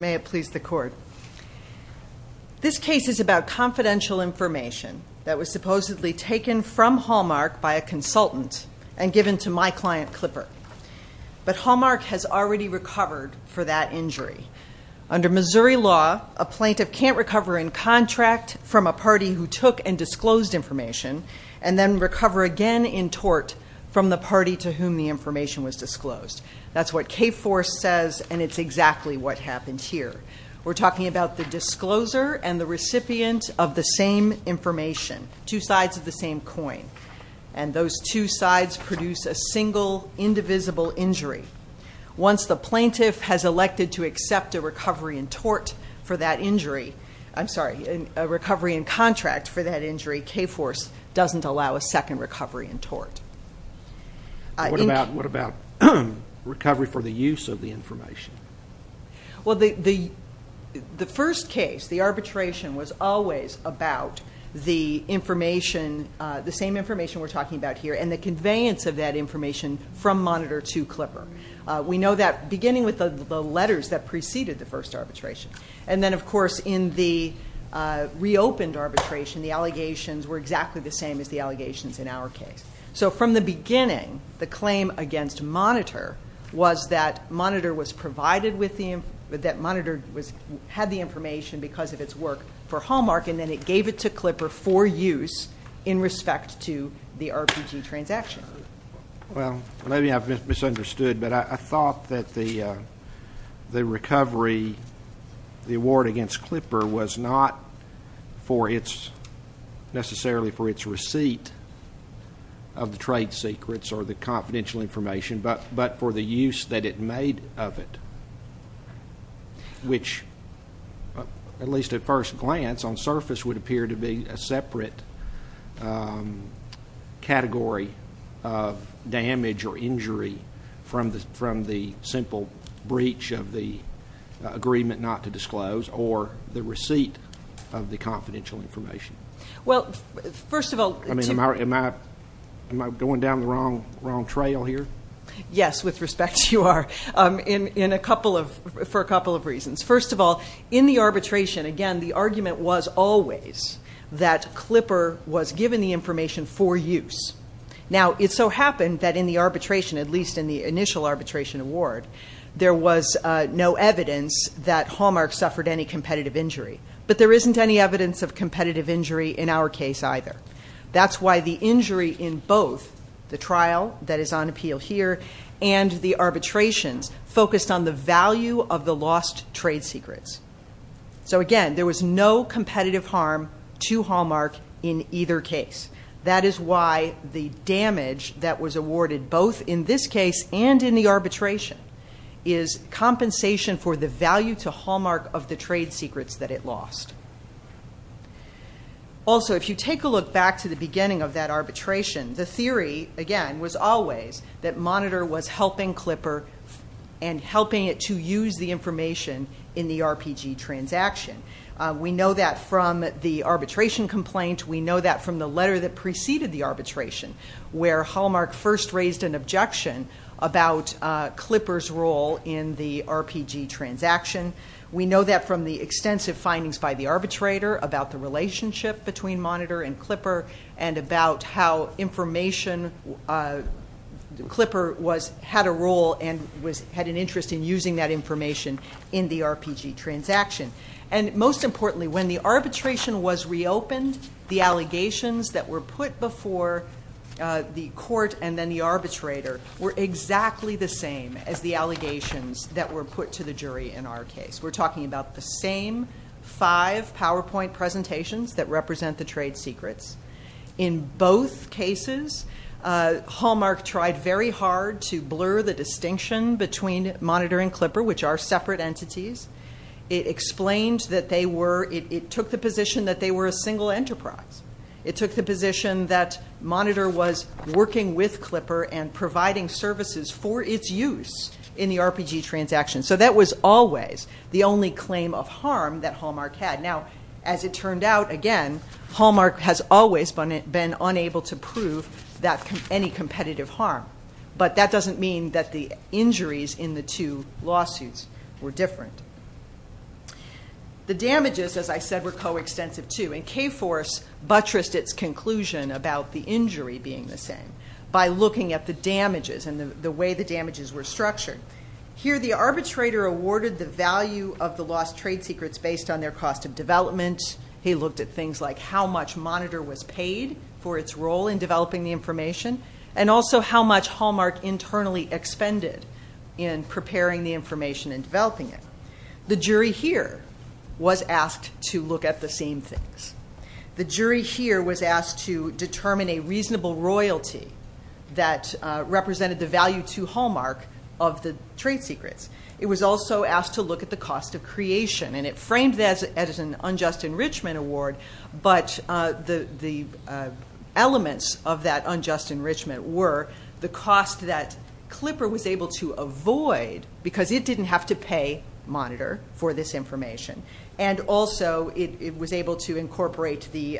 This case is about confidential information that was supposedly taken from Hallmark by a consultant and given to my client, Clipper. But Hallmark has already recovered for that injury. Under Missouri law, a plaintiff can't recover in contract from a party who took and disclosed information, and then recover again in tort from the party to whom the information was disclosed. That's what K-4 says, and it's exactly what happened here. We're talking about the discloser and the recipient of the same information, two sides of the same coin. And those two sides produce a single, indivisible injury. Once the plaintiff has elected to accept a recovery in tort for that injury, I'm sorry, a recovery in contract for that injury, K-4 doesn't allow a second recovery in tort. What about recovery for the use of the information? Well, the first case, the arbitration, was always about the information, the same information we're talking about here, and the conveyance of that information from Monitor to Clipper. We know that beginning with the letters that preceded the first arbitration. And then, of course, in the reopened arbitration, the allegations were exactly the same as the allegations in our case. So from the monitor was that Monitor had the information because of its work for Hallmark, and then it gave it to Clipper for use in respect to the RPG transaction. Well, maybe I've misunderstood, but I thought that the recovery, the award against Clipper was not necessarily for its receipt of the trade secrets or the confidential information, but for the use that it made of it, which at least at first glance on surface would appear to be a separate category of damage or injury from the simple breach of the agreement not to disclose or the receipt of the confidential information. Well, first of all, to am I going down the wrong trail here? Yes, with respect you are, for a couple of reasons. First of all, in the arbitration, again, the argument was always that Clipper was given the information for use. Now, it so happened that in the arbitration, at least in the initial arbitration award, there was no evidence that Hallmark suffered any competitive injury. But there isn't any evidence of competitive injury in our case either. That's why the injury in both the trial that is on appeal here and the arbitrations focused on the value of the lost trade secrets. So again, there was no competitive harm to Hallmark in either case. That is why the damage that was awarded both in this case and in the arbitration is compensation for the value to Hallmark of the trade secrets that it lost. Also, if you take a look back to the beginning of that arbitration, the theory, again, was always that Monitor was helping Clipper and helping it to use the information in the RPG transaction. We know that from the arbitration complaint. We know that from the letter that preceded the arbitration where Hallmark first raised an objection about Clipper's role in the RPG transaction. We know that from the extensive findings by the arbitrator about the relationship between Monitor and Clipper and about how information Clipper had a role and had an interest in using that information in the RPG transaction. Most importantly, when the arbitration was reopened, the allegations that were put before the court and then the arbitrator were exactly the same as the allegations that were put to the jury in our case. We're talking about the same five PowerPoint presentations that represent the trade secrets. In both cases, Hallmark tried very hard to blur the distinction between Monitor and Clipper, which are separate entities. It explained that they were, it took the position that they were a single enterprise. It took the position that Monitor was working with Clipper and providing services for its use in the RPG transaction. So that was always the only claim of harm that Hallmark had. Now, as it turned out, again, Hallmark has always been unable to prove any competitive harm. But that doesn't mean that the injuries in the two lawsuits were different. The damages, as I said, were coextensive too. And K-Force buttressed its conclusion about the injury being the same by looking at the damages and the way the damages were structured. Here, the arbitrator awarded the value of the lost trade secrets based on their cost of development. He looked at things like how much Monitor was paid for its role in developing the information and also how much Hallmark internally expended in preparing the information and developing it. The jury here was asked to look at the same things. The jury here was asked to determine a reasonable royalty that represented the value to Hallmark of the trade secrets. It was also asked to look at the cost of creation. And it framed that as an unjust enrichment award, but the elements of that unjust enrichment were the cost that Clipper was able to avoid because it didn't have to pay Monitor for this information. And also it was able to incorporate the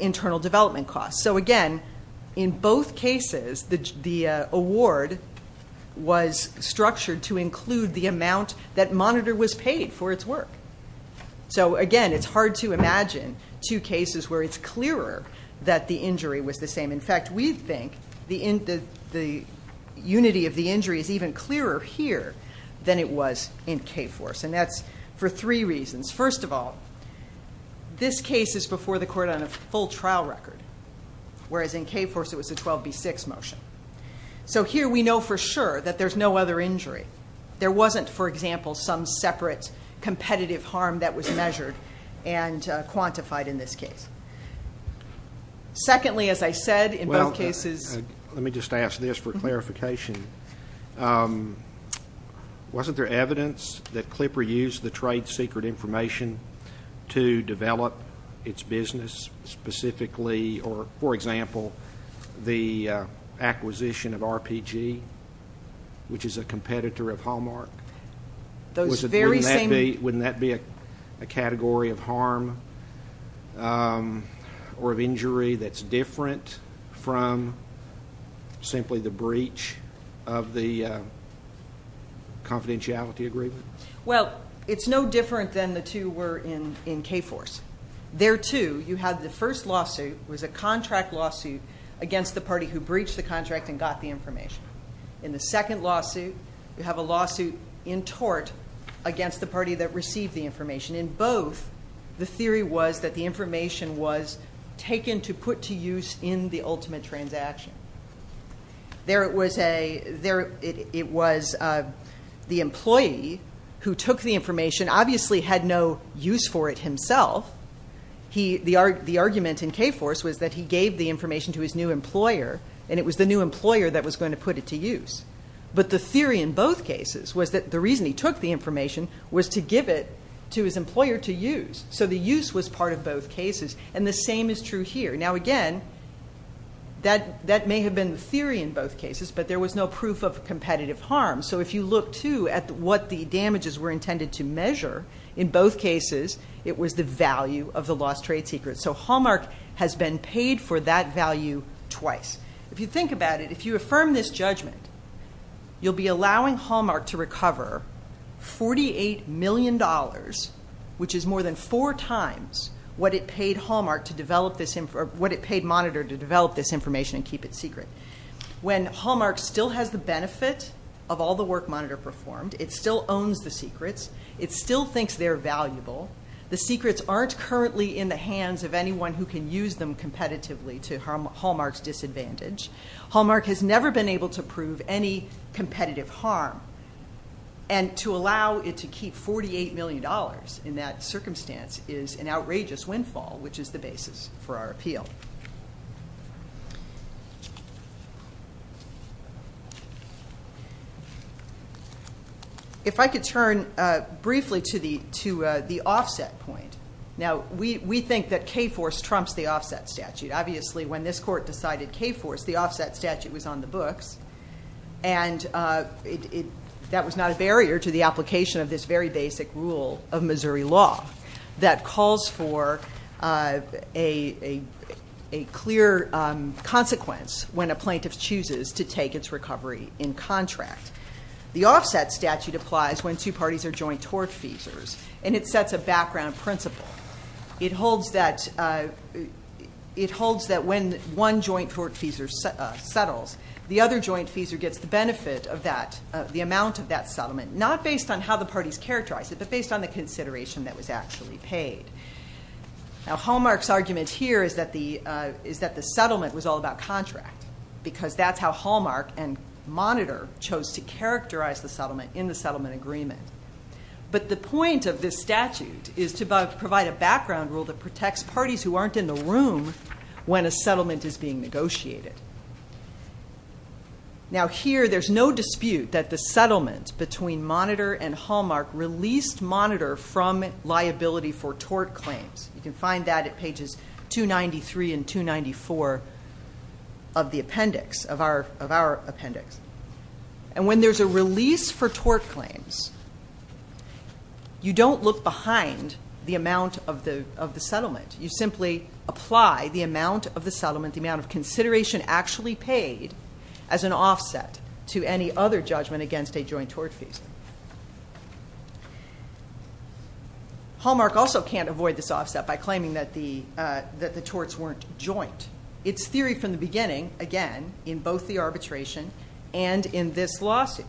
internal development costs. So again, in both cases, the award was structured to include the amount that Monitor was paid for its work. Again, it's hard to imagine two cases where it's clearer that the injury was the same. In fact, we think the unity of the injury is even clearer here than it was in K-Force. And that's for three reasons. First of all, this case is before the court on a full trial record, whereas in K-Force it was a 12B6 motion. So here we know for sure that there's no other injury. There wasn't, for example, some separate competitive harm that was measured and quantified in this case. Secondly, as I said, in both cases Let me just ask this for clarification. Wasn't there evidence that Clipper used the trade secret information to develop its business specifically, or for example, the acquisition of RPG, which is a competitor of Hallmark? Wouldn't that be a category of harm or of injury that's different from simply the breach of the confidentiality agreement? Well, it's no different than the two were in K-Force. There too, you had the first lawsuit was a contract lawsuit against the party who breached the contract and got the information. In the second lawsuit, you have a lawsuit in tort against the party that received the information. In both, the theory was that the information was taken to put to use in the ultimate transaction. There it was the employee who took the information obviously had no use for it himself. The argument in K-Force was that he gave the information to his new employer, and it was the new employer that was going to put it to use. But the theory in both cases was that the reason he took the information was to give it to his employer to use. The use was part of both cases, and the same is true here. Again, that may have been the theory in both cases, but there was no proof of competitive harm. So if you look too at what the damages were intended to measure in both cases, it was the value of the lost trade secret. So Hallmark has been paid for that value twice. If you think about it, if you affirm this judgment, you'll be allowing Hallmark to recover $48 million dollars, which is more than four times what it paid Hallmark to develop this, or what it paid Monitor to develop this information and keep it still has the benefit of all the work Monitor performed. It still owns the secrets. It still thinks they're valuable. The secrets aren't currently in the hands of anyone who can use them competitively to Hallmark's disadvantage. Hallmark has never been able to prove any competitive harm, and to allow it to keep $48 million dollars in that circumstance is an outrageous windfall, which is the basis for our appeal. If I could turn briefly to the offset point. Now, we think that K-Force trumps the offset statute. Obviously, when this court decided K-Force, the offset statute was on the books, and that was not a barrier to the application of this very basic rule of Missouri law that calls for a clear consequence when a plaintiff chooses to take its recovery in contract. The offset statute applies when two parties are joint tortfeasors, and it sets a background principle. It holds that when one joint tortfeasor settles, the other joint feasor gets the benefit of the amount of that settlement, not based on how the parties characterize it, but based on the consideration that was actually paid. Now, Hallmark's argument here is that the settlement was all about contract, because that's how Hallmark and Monitor chose to characterize the settlement in the settlement agreement. But the point of this statute is to provide a background rule that protects parties who aren't in the room when a settlement is being negotiated. Now, here, there's no dispute that the settlement between Monitor and Hallmark released Monitor from liability for tort claims. You can find that at pages 293 and 294 of the appendix, of our appendix. And when there's a release for tort claims, you don't look behind the amount of the settlement. You simply apply the amount of the settlement, the amount of consideration actually paid as an offset to any other judgment against a joint tortfeasor. Hallmark also can't avoid this offset by claiming that the torts weren't joint. Its theory from the beginning, again, in both the arbitration and in this lawsuit,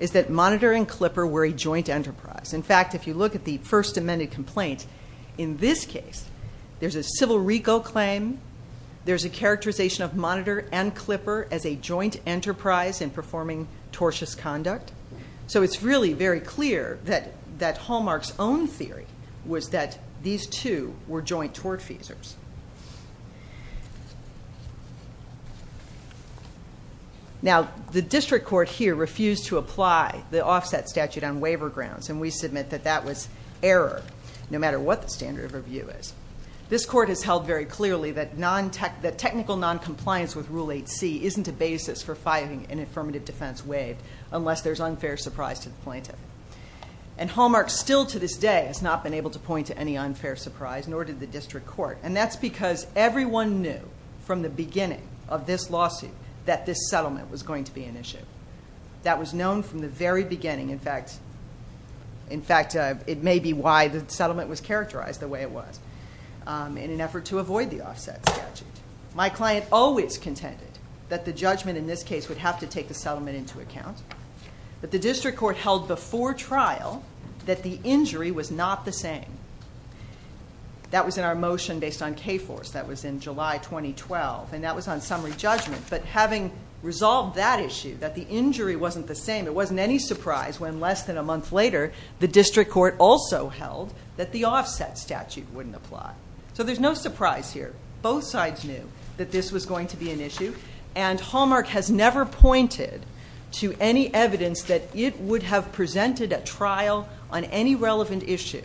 is that Monitor and Clipper were a joint enterprise. In fact, if you look at the first amended complaint, in this case, there's a civil regal claim, there's a characterization of Monitor and Clipper as a joint enterprise in performing tortious conduct. So it's really very clear that Hallmark's own theory was that these two were joint tortfeasors. Now, the district court here refused to apply the offset statute on waiver grounds, and we submit that that was error, no matter what the standard of review is. This court has held very clearly that technical noncompliance with Rule 8c isn't a basis for filing an affirmative defense waived unless there's unfair surprise to the plaintiff. And Hallmark still, to this day, has not been able to point to any unfair surprise, nor did the district court. And that's because everyone knew from the beginning of this lawsuit that this settlement was going to be an issue. That was known from the very beginning. In fact, it may be why the settlement was characterized the way it was, in an effort to avoid the offset statute. My client always contended that the judgment in this case would have to take the settlement into account, but the district court held before trial that the injury was not the same. That was in our motion based on KFORCE. That was in July 2012, and that was on summary judgment. But having resolved that issue, that the injury wasn't the same, it wasn't any surprise when less than a month later, the district court also held that the offset statute wouldn't apply. So there's no surprise here. Both sides knew that this was going to be an issue, and Hallmark has never pointed to any evidence that it would have presented at trial on any relevant issue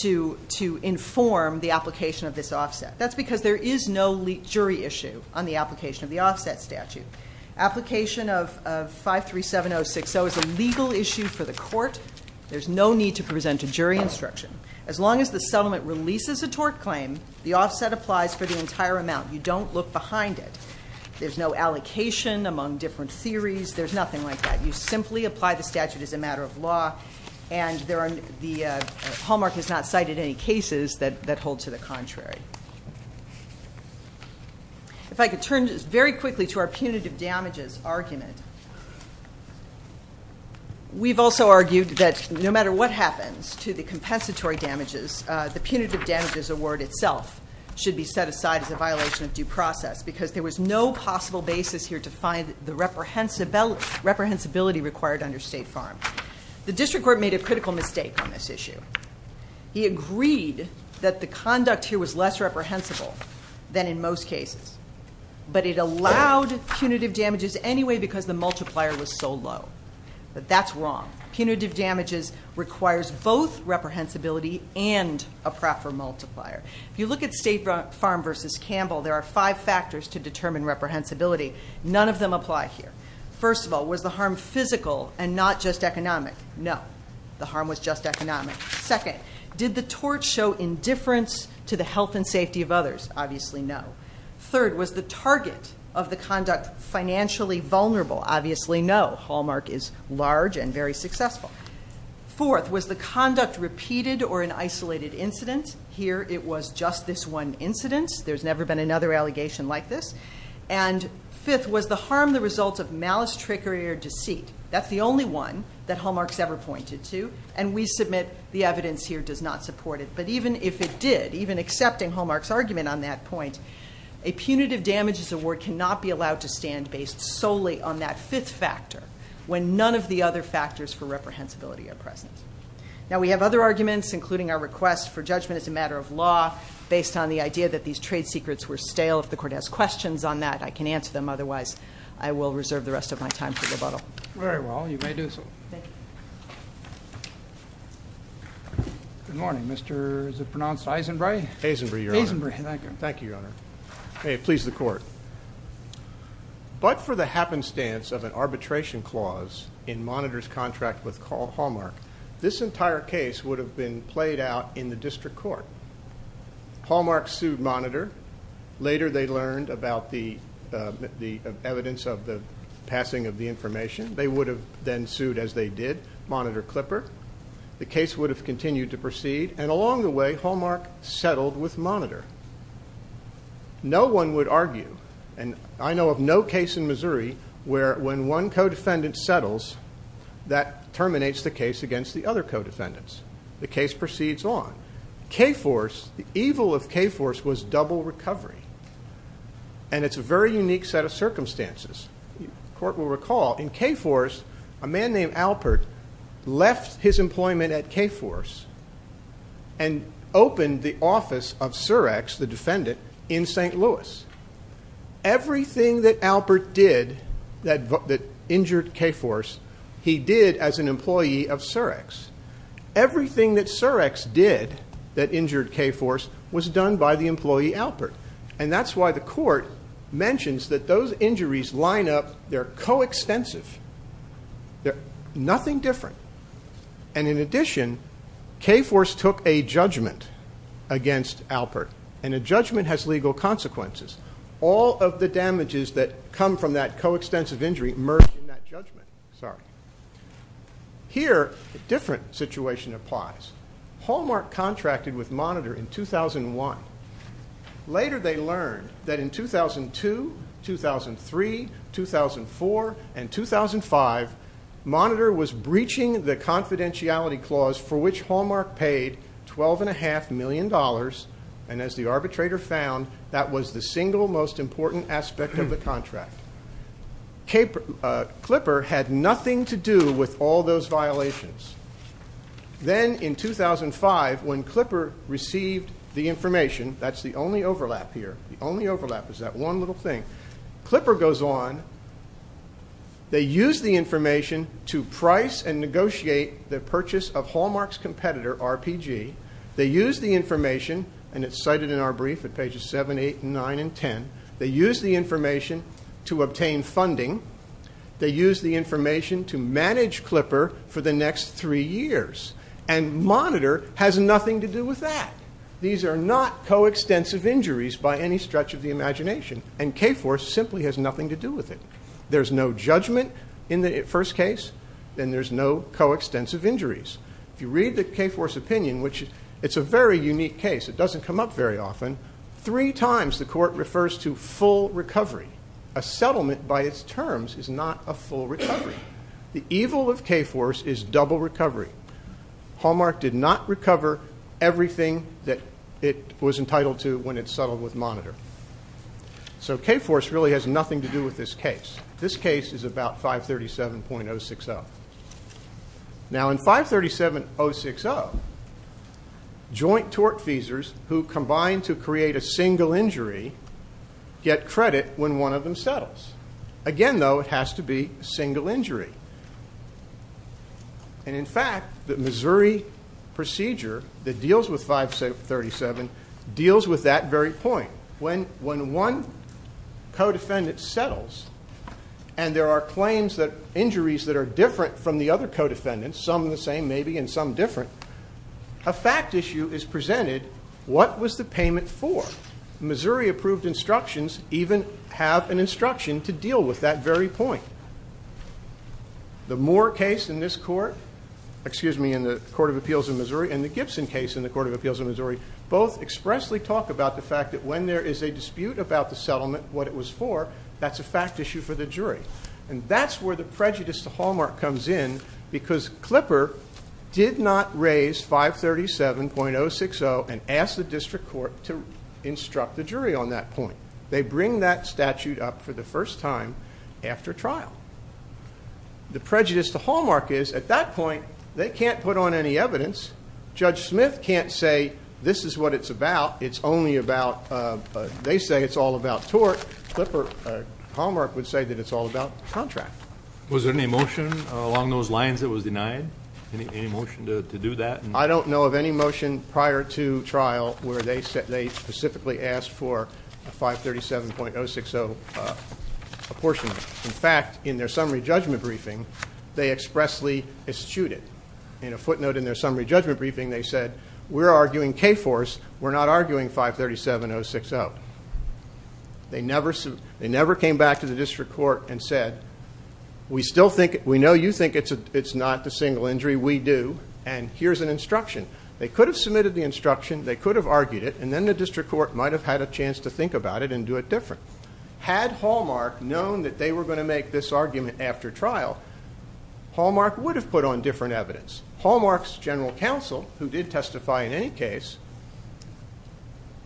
to inform the application of this offset. That's because there is no jury issue on the application of the offset statute. Application of 537060 is a legal issue for the court. There's no need to present a jury instruction. As long as the settlement releases a tort claim, the offset applies for the entire amount. You don't look behind it. There's no allocation among different theories. There's nothing like that. You simply apply the statute as a matter of law, and Hallmark has not cited any cases that hold to the contrary. If I could turn very quickly to our punitive damages argument. We've also argued that no matter what happens to the punitive damages award itself should be set aside as a violation of due process because there was no possible basis here to find the reprehensibility required under State Farm. The district court made a critical mistake on this issue. He agreed that the conduct here was less reprehensible than in most cases, but it allowed punitive damages anyway because the multiplier was so low. But that's wrong. Punitive damages requires both a proper multiplier. If you look at State Farm versus Campbell, there are five factors to determine reprehensibility. None of them apply here. First of all, was the harm physical and not just economic? No. The harm was just economic. Second, did the tort show indifference to the health and safety of others? Obviously no. Third, was the target of the conduct financially vulnerable? Obviously no. Hallmark is large and very successful. Fourth, was the conduct repeated or an isolated incident? Here it was just this one incident. There's never been another allegation like this. And fifth, was the harm the result of malice, trickery, or deceit? That's the only one that Hallmark's ever pointed to, and we submit the evidence here does not support it. But even if it did, even accepting Hallmark's argument on that point, a punitive damages award cannot be allowed to stand based solely on that fifth factor when none of the other factors for reprehensibility are present. Now, we have other arguments, including our request for judgment as a matter of law based on the idea that these trade secrets were stale. If the Court has questions on that, I can answer them. Otherwise, I will reserve the rest of my time for rebuttal. Very well. You may do so. Thank you. Good morning. Mr. Is it pronounced Eisenbrae? Eisenbrae, Your Honor. Thank you, Your Honor. May it please the Court. But for the happenstance of an arbitration clause in Monitor's contract with Hallmark, this entire case would have been played out in the District Court. Hallmark sued Monitor. Later, they learned about the evidence of the passing of the information. They would have then sued, as they did, Monitor Clipper. The case would have continued to proceed, and along the way, Hallmark settled with Monitor. When one co-defendant settles, that terminates the case against the other co-defendants. The case proceeds on. K-Force, the evil of K-Force was double recovery. And it's a very unique set of circumstances. The Court will recall in K-Force, a man named Alpert left his employment at K-Force and opened the office of Surex, the defendant, in St. Louis. Everything that Alpert did that injured K-Force, he did as an employee of Surex. Everything that Surex did that injured K-Force was done by the employee, Alpert. And that's why the Court mentions that those injuries line up. They're co-extensive. Nothing different. And in addition, K-Force took a judgment against Alpert. And a judgment has legal consequences. All of the damages that come from that co-extensive injury merge in that judgment. Here, a different situation applies. Hallmark contracted with Monitor in 2001. Later they learned that in 2002, 2003, 2004, and 2005, Monitor was breaching the confidentiality clause for which Hallmark paid $12.5 million and as the arbitrator found, that was the single most important aspect of the contract. Klipper had nothing to do with all those violations. Then in 2005, when Klipper received the information that's the only overlap here, the only overlap is that one little thing Klipper goes on, they use the information to price and negotiate the purchase of Hallmark's competitor, RPG. They use the information, and it's cited in our brief at pages 7, 8, 9, and 10. They use the information to obtain funding. They use the information to manage Klipper for the next three years. And Monitor has nothing to do with that. These are not co-extensive injuries by any stretch of the imagination. And K-Force simply has nothing to do with it. There's no judgment in the first case, and there's no co-extensive injuries. If you read the K-Force opinion, it's a very unique case. It doesn't come up very often. Three times the court refers to full recovery. A settlement by its terms is not a full recovery. The evil of K-Force is double recovery. Hallmark did not recover everything that it was entitled to when it settled with Monitor. So K-Force really has nothing to do with this case. This case is about 537.060. Now in 537.060, joint tort feasors who combine to create a single injury get credit when one of them settles. Again, though, it has to be a single injury. And in fact, the Missouri procedure that deals with 537.060 deals with that very point. When one co-defendant settles, and there are injuries that are different from the other co-defendants, some the same maybe and some different, a fact issue is presented. What was the payment for? Missouri approved instructions even have an instruction to deal with that very point. The Moore case in the Court of Appeals in Missouri and the Gibson case in the Court of Appeals in Missouri both expressly talk about the fact that when there is a dispute about the settlement, what it was for, that's a where the prejudice to Hallmark comes in because Clipper did not raise 537.060 and ask the District Court to instruct the jury on that point. They bring that statute up for the first time after trial. The prejudice to Hallmark is, at that point, they can't put on any evidence. Judge Smith can't say, this is what it's about. It's only about, they say it's all about tort. Hallmark would say that it's all about contract. Was there any motion along those lines that was denied? Any motion to do that? I don't know of any motion prior to trial where they specifically asked for 537.060 apportionment. In fact, in their summary judgment briefing, they expressly eschewed it. In a footnote in their summary judgment briefing, they said, we're arguing K-4's, we're not arguing 537.060. They never came back to the District Court and said, we know you think it's not the single injury, we do, and here's an instruction. They could have submitted the instruction, they could have argued it, and then the District Court might have had a chance to think about it and do it different. Had Hallmark known that they were going to make this argument after trial, Hallmark would have put on different evidence. Hallmark's general counsel, who did testify in any case,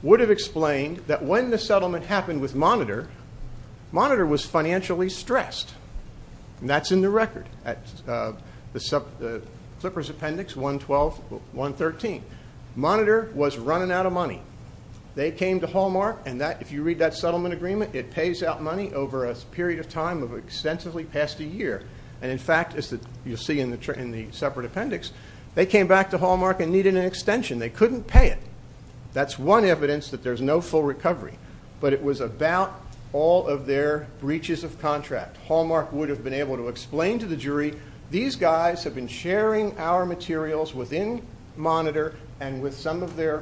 would have explained that when the settlement happened with Monitor, Monitor was financially stressed. That's in the record. Clippers Appendix 112-113. Monitor was running out of money. They came to Hallmark, and if you read that settlement agreement, it pays out money over a period of time of extensively past a year. In fact, as you'll see in the separate appendix, they came back to Hallmark and needed an extension. They couldn't pay it. That's one evidence that there's no full recovery, but it was about all of their breaches of contract. Hallmark would have been able to explain to the jury, these guys have been sharing our materials within Monitor and with some of their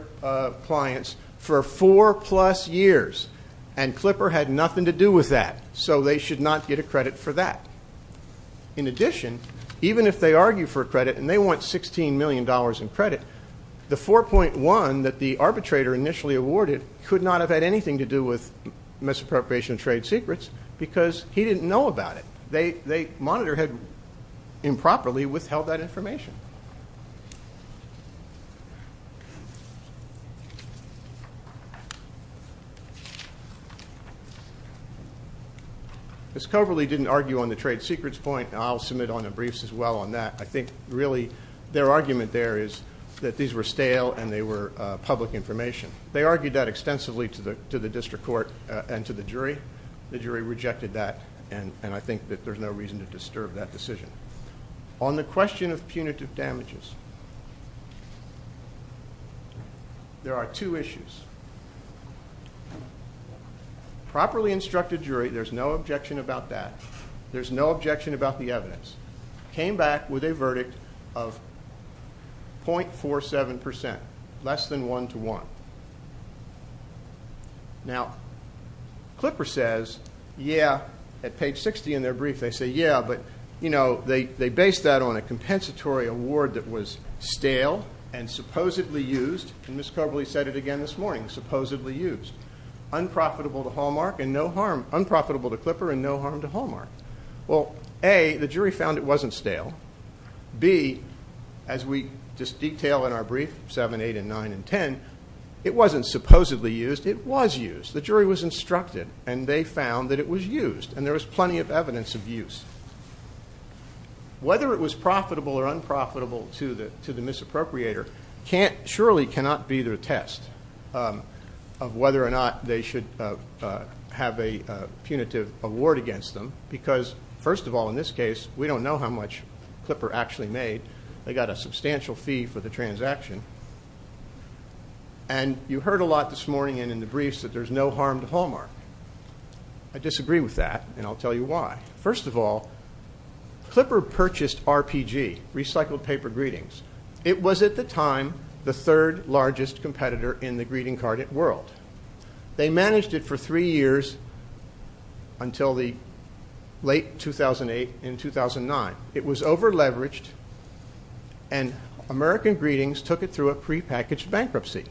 clients for four plus years. And Clipper had nothing to do with that, so they should not get a credit and they want $16 million in credit. The 4.1 that the arbitrator initially awarded could not have had anything to do with misappropriation of trade secrets because he didn't know about it. Monitor had improperly withheld that information. Ms. Coverley didn't argue on the trade secrets point, and I'll submit on that. I think, really, their argument there is that these were stale and they were public information. They argued that extensively to the District Court and to the jury. The jury rejected that, and I think that there's no reason to disturb that decision. On the question of punitive damages, there are two issues. Properly instructed jury, there's no objection about that. There's no objection about the evidence. Came back with a verdict of .47 percent, less than one to one. Now, Clipper says yeah, at page 60 in their brief, they say yeah, but they based that on a compensatory award that was stale and supposedly used, and Ms. Coverley said it again this morning, supposedly used. Unprofitable to Clipper and no A, the jury found it wasn't stale. B, as we just detail in our brief, 7, 8, 9, and 10, it wasn't supposedly used. It was used. The jury was instructed, and they found that it was used, and there was plenty of evidence of use. Whether it was profitable or unprofitable to the misappropriator surely cannot be their test of whether or not they should have a punitive award against them, because first of all, in this case, we don't know how much Clipper actually made. They got a substantial fee for the transaction. You heard a lot this morning and in the briefs that there's no harm to Hallmark. I disagree with that, and I'll tell you why. First of all, Clipper purchased RPG, Recycled Paper Greetings. It was, at the time, the third largest competitor in the greeting card world. They managed it for three years until the late 2008 and 2009. It was over-leveraged, and American Greetings took it through a prepackaged bankruptcy.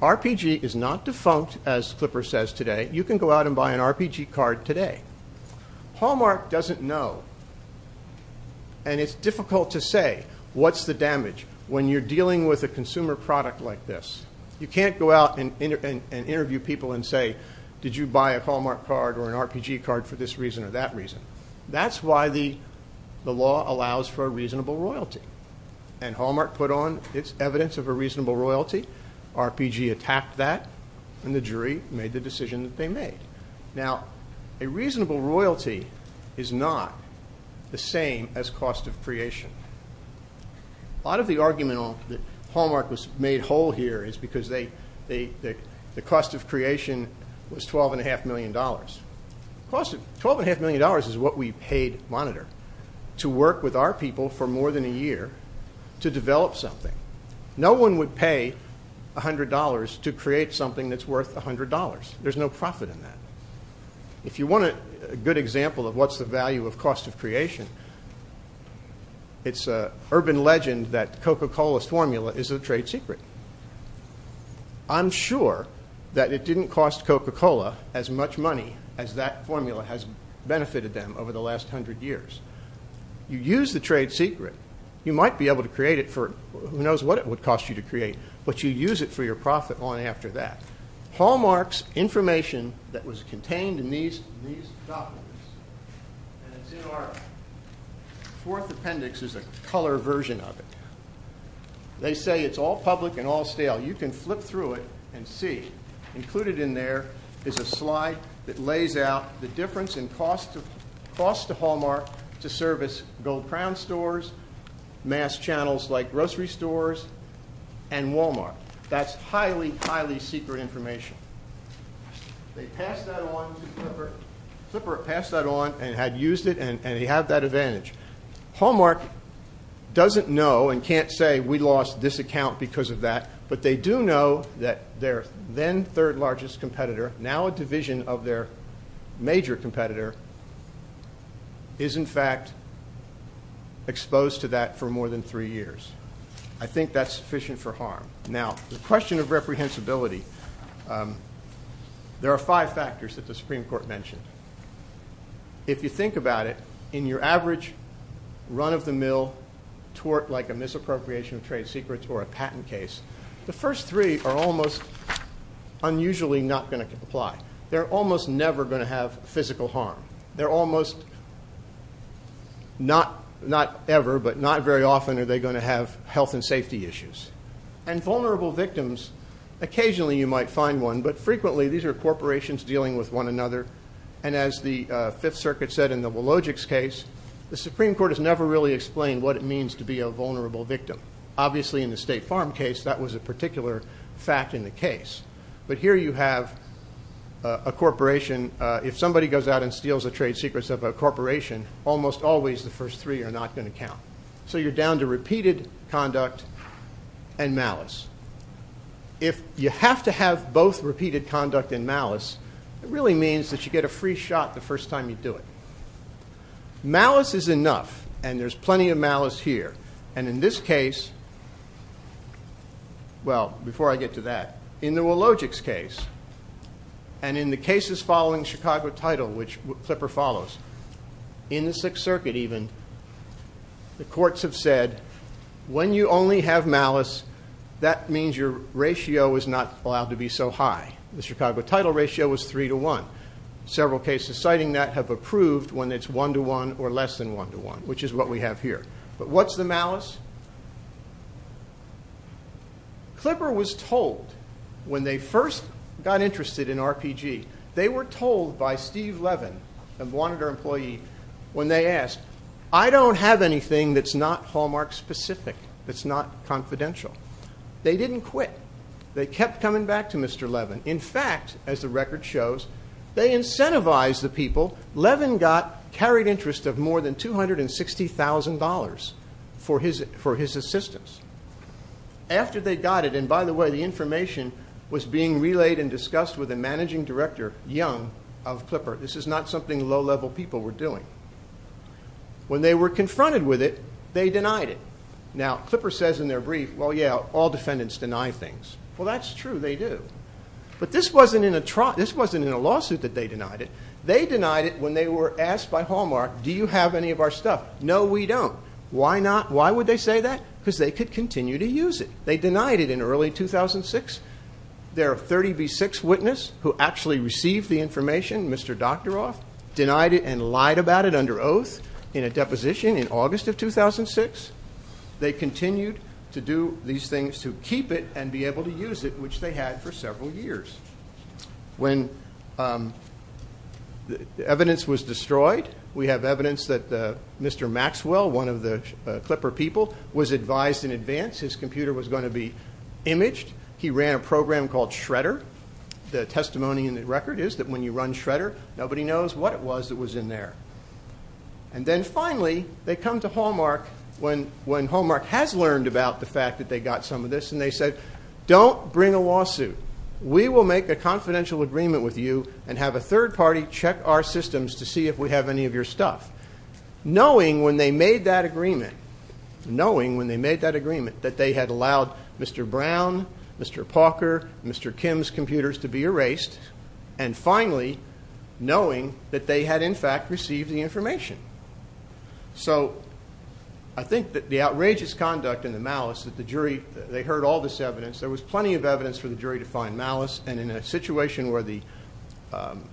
RPG is not defunct, as Clipper says today. You can go out and buy an RPG card today. Hallmark doesn't know, and it's difficult to say what's the damage when you're dealing with a consumer product like this. You can't go out and interview people and say, did you buy a Hallmark card or an RPG card for this reason or that reason. That's why the law allows for a reasonable royalty, and Hallmark put on its evidence of a reasonable royalty. RPG attacked that, and the jury made the decision that they made. Now, a reasonable royalty is not the same as cost of creation. A lot of the argument that Hallmark made whole here is because the cost of creation was $12.5 million. $12.5 million is what we paid Monitor to work with our people for more than a year to develop something. No one would pay $100 to create something that's worth $100. There's no profit in that. If you want a good example of what's the value of cost of creation, it's an urban legend that Coca-Cola's formula is a trade secret. I'm sure that it didn't cost Coca-Cola as much money as that formula has benefited them over the last 100 years. You use the trade secret, you might be able to create it for, who knows what it would cost you to create, but you use it for your profit long after that. Hallmark's information that was contained in these documents, and it's in art, the fourth appendix is a color version of it. They say it's all public and all stale. You can flip through it and see. Included in there is a slide that lays out the difference in cost to Hallmark to service Gold Crown stores, mass channels like grocery stores, and Walmart. That's highly, highly secret information. They passed that on to Flipper. Flipper passed that on and had used it, and he had that advantage. Hallmark doesn't know and can't say we lost this account because of that, but they do know that their then third largest competitor, now a division of their major competitor, is in fact exposed to that for more than three years. I think that's sufficient for harm. Now, the question of reprehensibility. There are five factors that the Supreme Court mentioned. If you think about it, in your average run-of-the-mill tort, like a misappropriation of trade secrets or a patent case, the first three are almost unusually not going to apply. They're almost never going to have physical harm. Not ever, but not very often are they going to have health and safety issues. Vulnerable victims, occasionally you might find one, but frequently these are corporations dealing with one another. As the Fifth Circuit said in the Wilogics case, the Supreme Court has never really explained what it means to be a vulnerable victim. Obviously in the State Farm case, that was a particular fact in the case. Here you have a corporation. If somebody goes out and steals the trade secrets of a corporation, almost always the first three are not going to count. You're down to repeated conduct and malice. If you have to have both repeated conduct and malice, it really means that you get a free shot the first time you do it. Malice is enough, and there's plenty of malice here. In this case, well, before I get to that, in the Wilogics case, and in the cases following Chicago Title, which Clipper follows, in the Sixth Circuit even, the courts have said when you only have malice, that means your ratio is not allowed to be so high. The Chicago Title ratio was 3 to 1. Several cases citing that have approved when it's 1 to 1 or less than 1 to 1, which is what we have here. But what's the malice? Clipper was told when they first got interested in RPG, they were told by Steve Levin, a monitor employee, when they asked, I don't have anything that's not Hallmark specific, that's not confidential. They didn't quit. They kept coming back to Mr. Levin. In fact, as the record shows, they incentivized the people. Levin carried interest of more than $260,000 for his assistance. After they got it, and by the way, the information was being relayed and discussed with the managing director, Young, of Clipper. This is not something low-level people were doing. When they were confronted with it, they denied it. Now, Clipper says in their brief, well, yeah, all defendants deny things. Well, that's true. They do. But this wasn't in a lawsuit that they denied it. They denied it when they were asked by Hallmark, do you have any of our stuff? No, we don't. Why would they say that? Because they could continue to use it. They denied it in early 2006. Their 30B6 witness, who actually received the information, Mr. Doctoroff, denied it and lied about it under oath in a deposition in August of 2006. They continued to do these things to keep it and be able to use it, which they had for several years. When the evidence was destroyed, we have evidence that Mr. Maxwell, one of the Clipper people, was advised in advance his computer was going to be imaged. He ran a program called Shredder. The testimony in the record is that when you run Shredder, nobody knows what it was that was in there. And then finally, they come to Hallmark when Hallmark has learned about the fact that they got some of this, and they said, don't bring a lawsuit. We will make a confidential agreement with you and have a third party check our systems to see if we have any of your stuff. Knowing when they made that agreement, that they had allowed Mr. Brown, Mr. Palker, Mr. Kim's computers to be erased, and finally knowing that they had, in fact, received the information. So, I think that the outrageous conduct and the malice that the jury, they heard all this evidence. There was plenty of evidence for the jury to find malice, and in a situation where the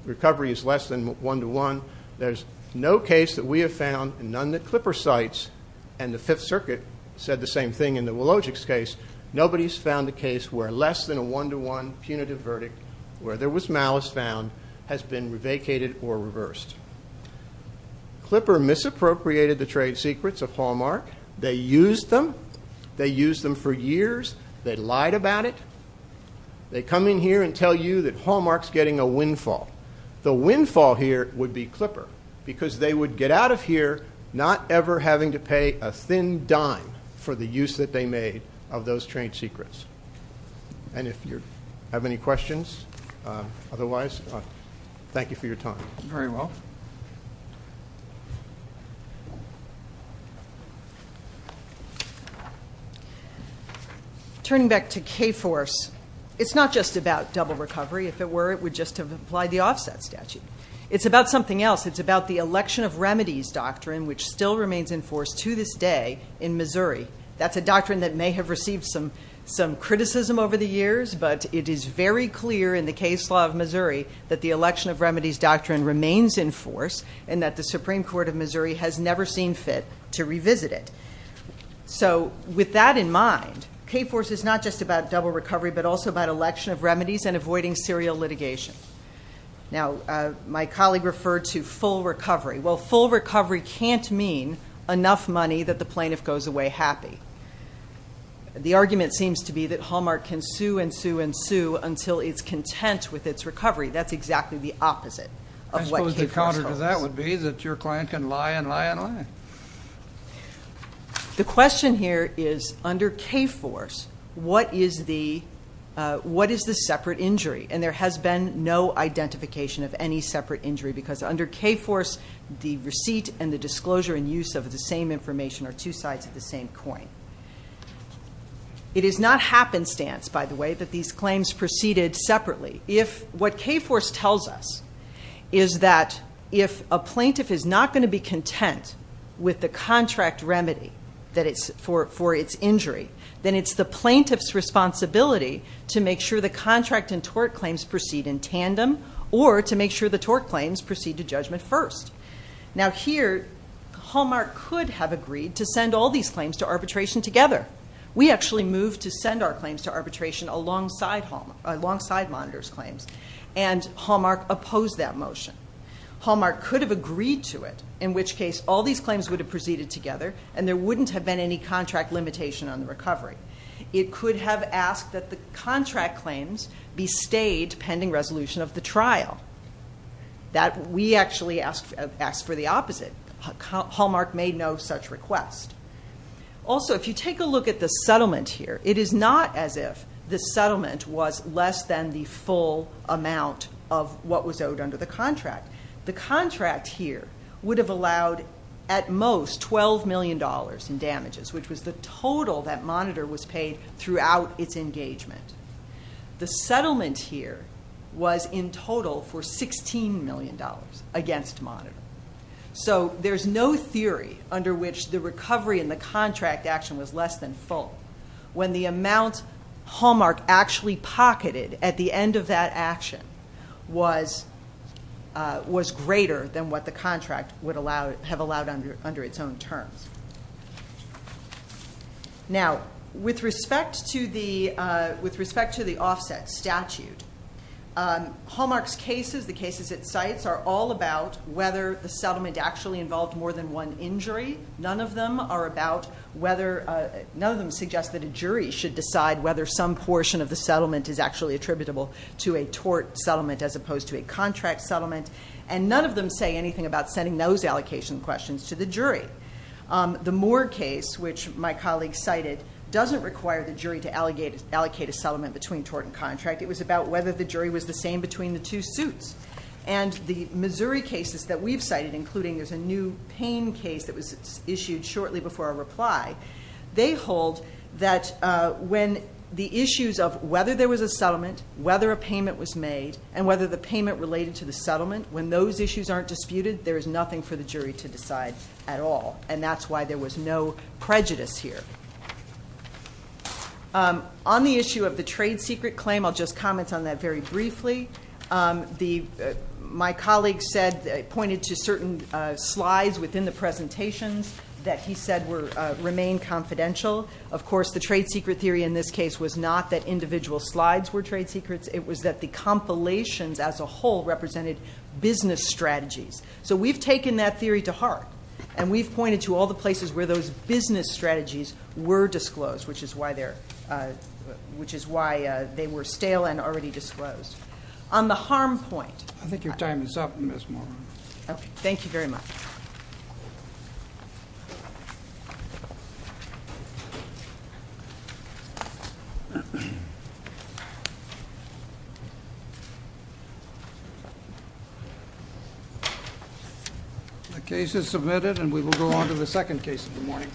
recovery is less than one to one, there's no case that we have found, and none that Clipper cites, and the Fifth Circuit said the same thing in the Wlodzik's case. Nobody's found a case where less than a one to one punitive verdict where there was malice found has been vacated or reversed. Clipper misappropriated the trade secrets of Hallmark. They used them. They used them for years. They lied about it. They come in here and tell you that Hallmark's getting a windfall. The windfall here would be Clipper, because they would get out of here not ever having to pay a thin dime for the use that they made of those trade secrets. And if you have any questions, otherwise, thank you for your time. Turning back to K-Force, it's not just about double recovery. If it were, it would just have applied the offset statute. It's about something else. It's about the election of remedies doctrine, which still remains in force to this day in Missouri. That's a doctrine that may have received some criticism over the years, but it is very clear in the case law of Missouri that the election of remedies doctrine remains in force and that the Supreme Court of Missouri has never seen fit to revisit it. So with that in mind, K-Force is not just about double recovery, but also about election of remedies and avoiding serial litigation. Now, my colleague referred to full recovery. Well, full recovery can't mean enough money that the argument seems to be that Hallmark can sue and sue and sue until it's content with its recovery. That's exactly the opposite of what K-Force does. I suppose the counter to that would be that your client can lie and lie and lie. The question here is, under K-Force, what is the separate injury? And there has been no identification of any separate injury because under K-Force, the receipt and the disclosure and use of the same information are two It is not happenstance, by the way, that these claims proceeded separately. What K-Force tells us is that if a plaintiff is not going to be content with the contract remedy for its injury, then it's the plaintiff's responsibility to make sure the contract and tort claims proceed in tandem or to make sure the tort claims proceed to judgment first. Now here, Hallmark could have agreed to send all these claims to arbitration together. We actually moved to send our claims to arbitration alongside Monitor's claims and Hallmark opposed that motion. Hallmark could have agreed to it, in which case all these claims would have proceeded together and there wouldn't have been any contract limitation on the recovery. It could have asked that the contract claims be stayed pending resolution of the trial. We actually asked for the opposite. Hallmark made no such request. Also, if you take a look at the settlement here, it is not as if the settlement was less than the full amount of what was owed under the contract. The contract here would have allowed, at most, $12 million in damages, which was the total that Monitor was paid throughout its engagement. The settlement here was in total for $16 million against Monitor. There's no theory under which the recovery in the contract action was less than full when the amount Hallmark actually pocketed at the end of that action was greater than what the contract would have allowed under its own terms. Now, with respect to the offset statute, Hallmark's cases, the cases it cites, are all about whether the settlement actually involved more than one injury. None of them suggest that a jury should decide whether some portion of the settlement is actually attributable to a tort settlement as opposed to a contract settlement. And none of them say anything about sending those allocation questions to the jury. The Moore case, which my colleague cited, doesn't require the jury to allocate a settlement between tort and contract. It was about whether the jury was the same between the two suits. And the Missouri cases that we've cited, including there's a new Payne case that was issued shortly before our reply, they hold that when the issues of whether there was a settlement, whether a payment was made, and whether the payment related to the settlement, when those issues aren't disputed, there is nothing for the jury to decide at all. And that's why there was no prejudice here. On the issue of the trade secret claim, I'll just My colleague pointed to certain slides within the presentations that he said remained confidential. Of course, the trade secret theory in this case was not that individual slides were trade secrets. It was that the compilations as a whole represented business strategies. So we've taken that theory to heart. And we've pointed to all the places where those business strategies were disclosed, which is why they were stale and already disclosed. On the harm point Thank you very much. The case is submitted and we will go on to the second case of the morning.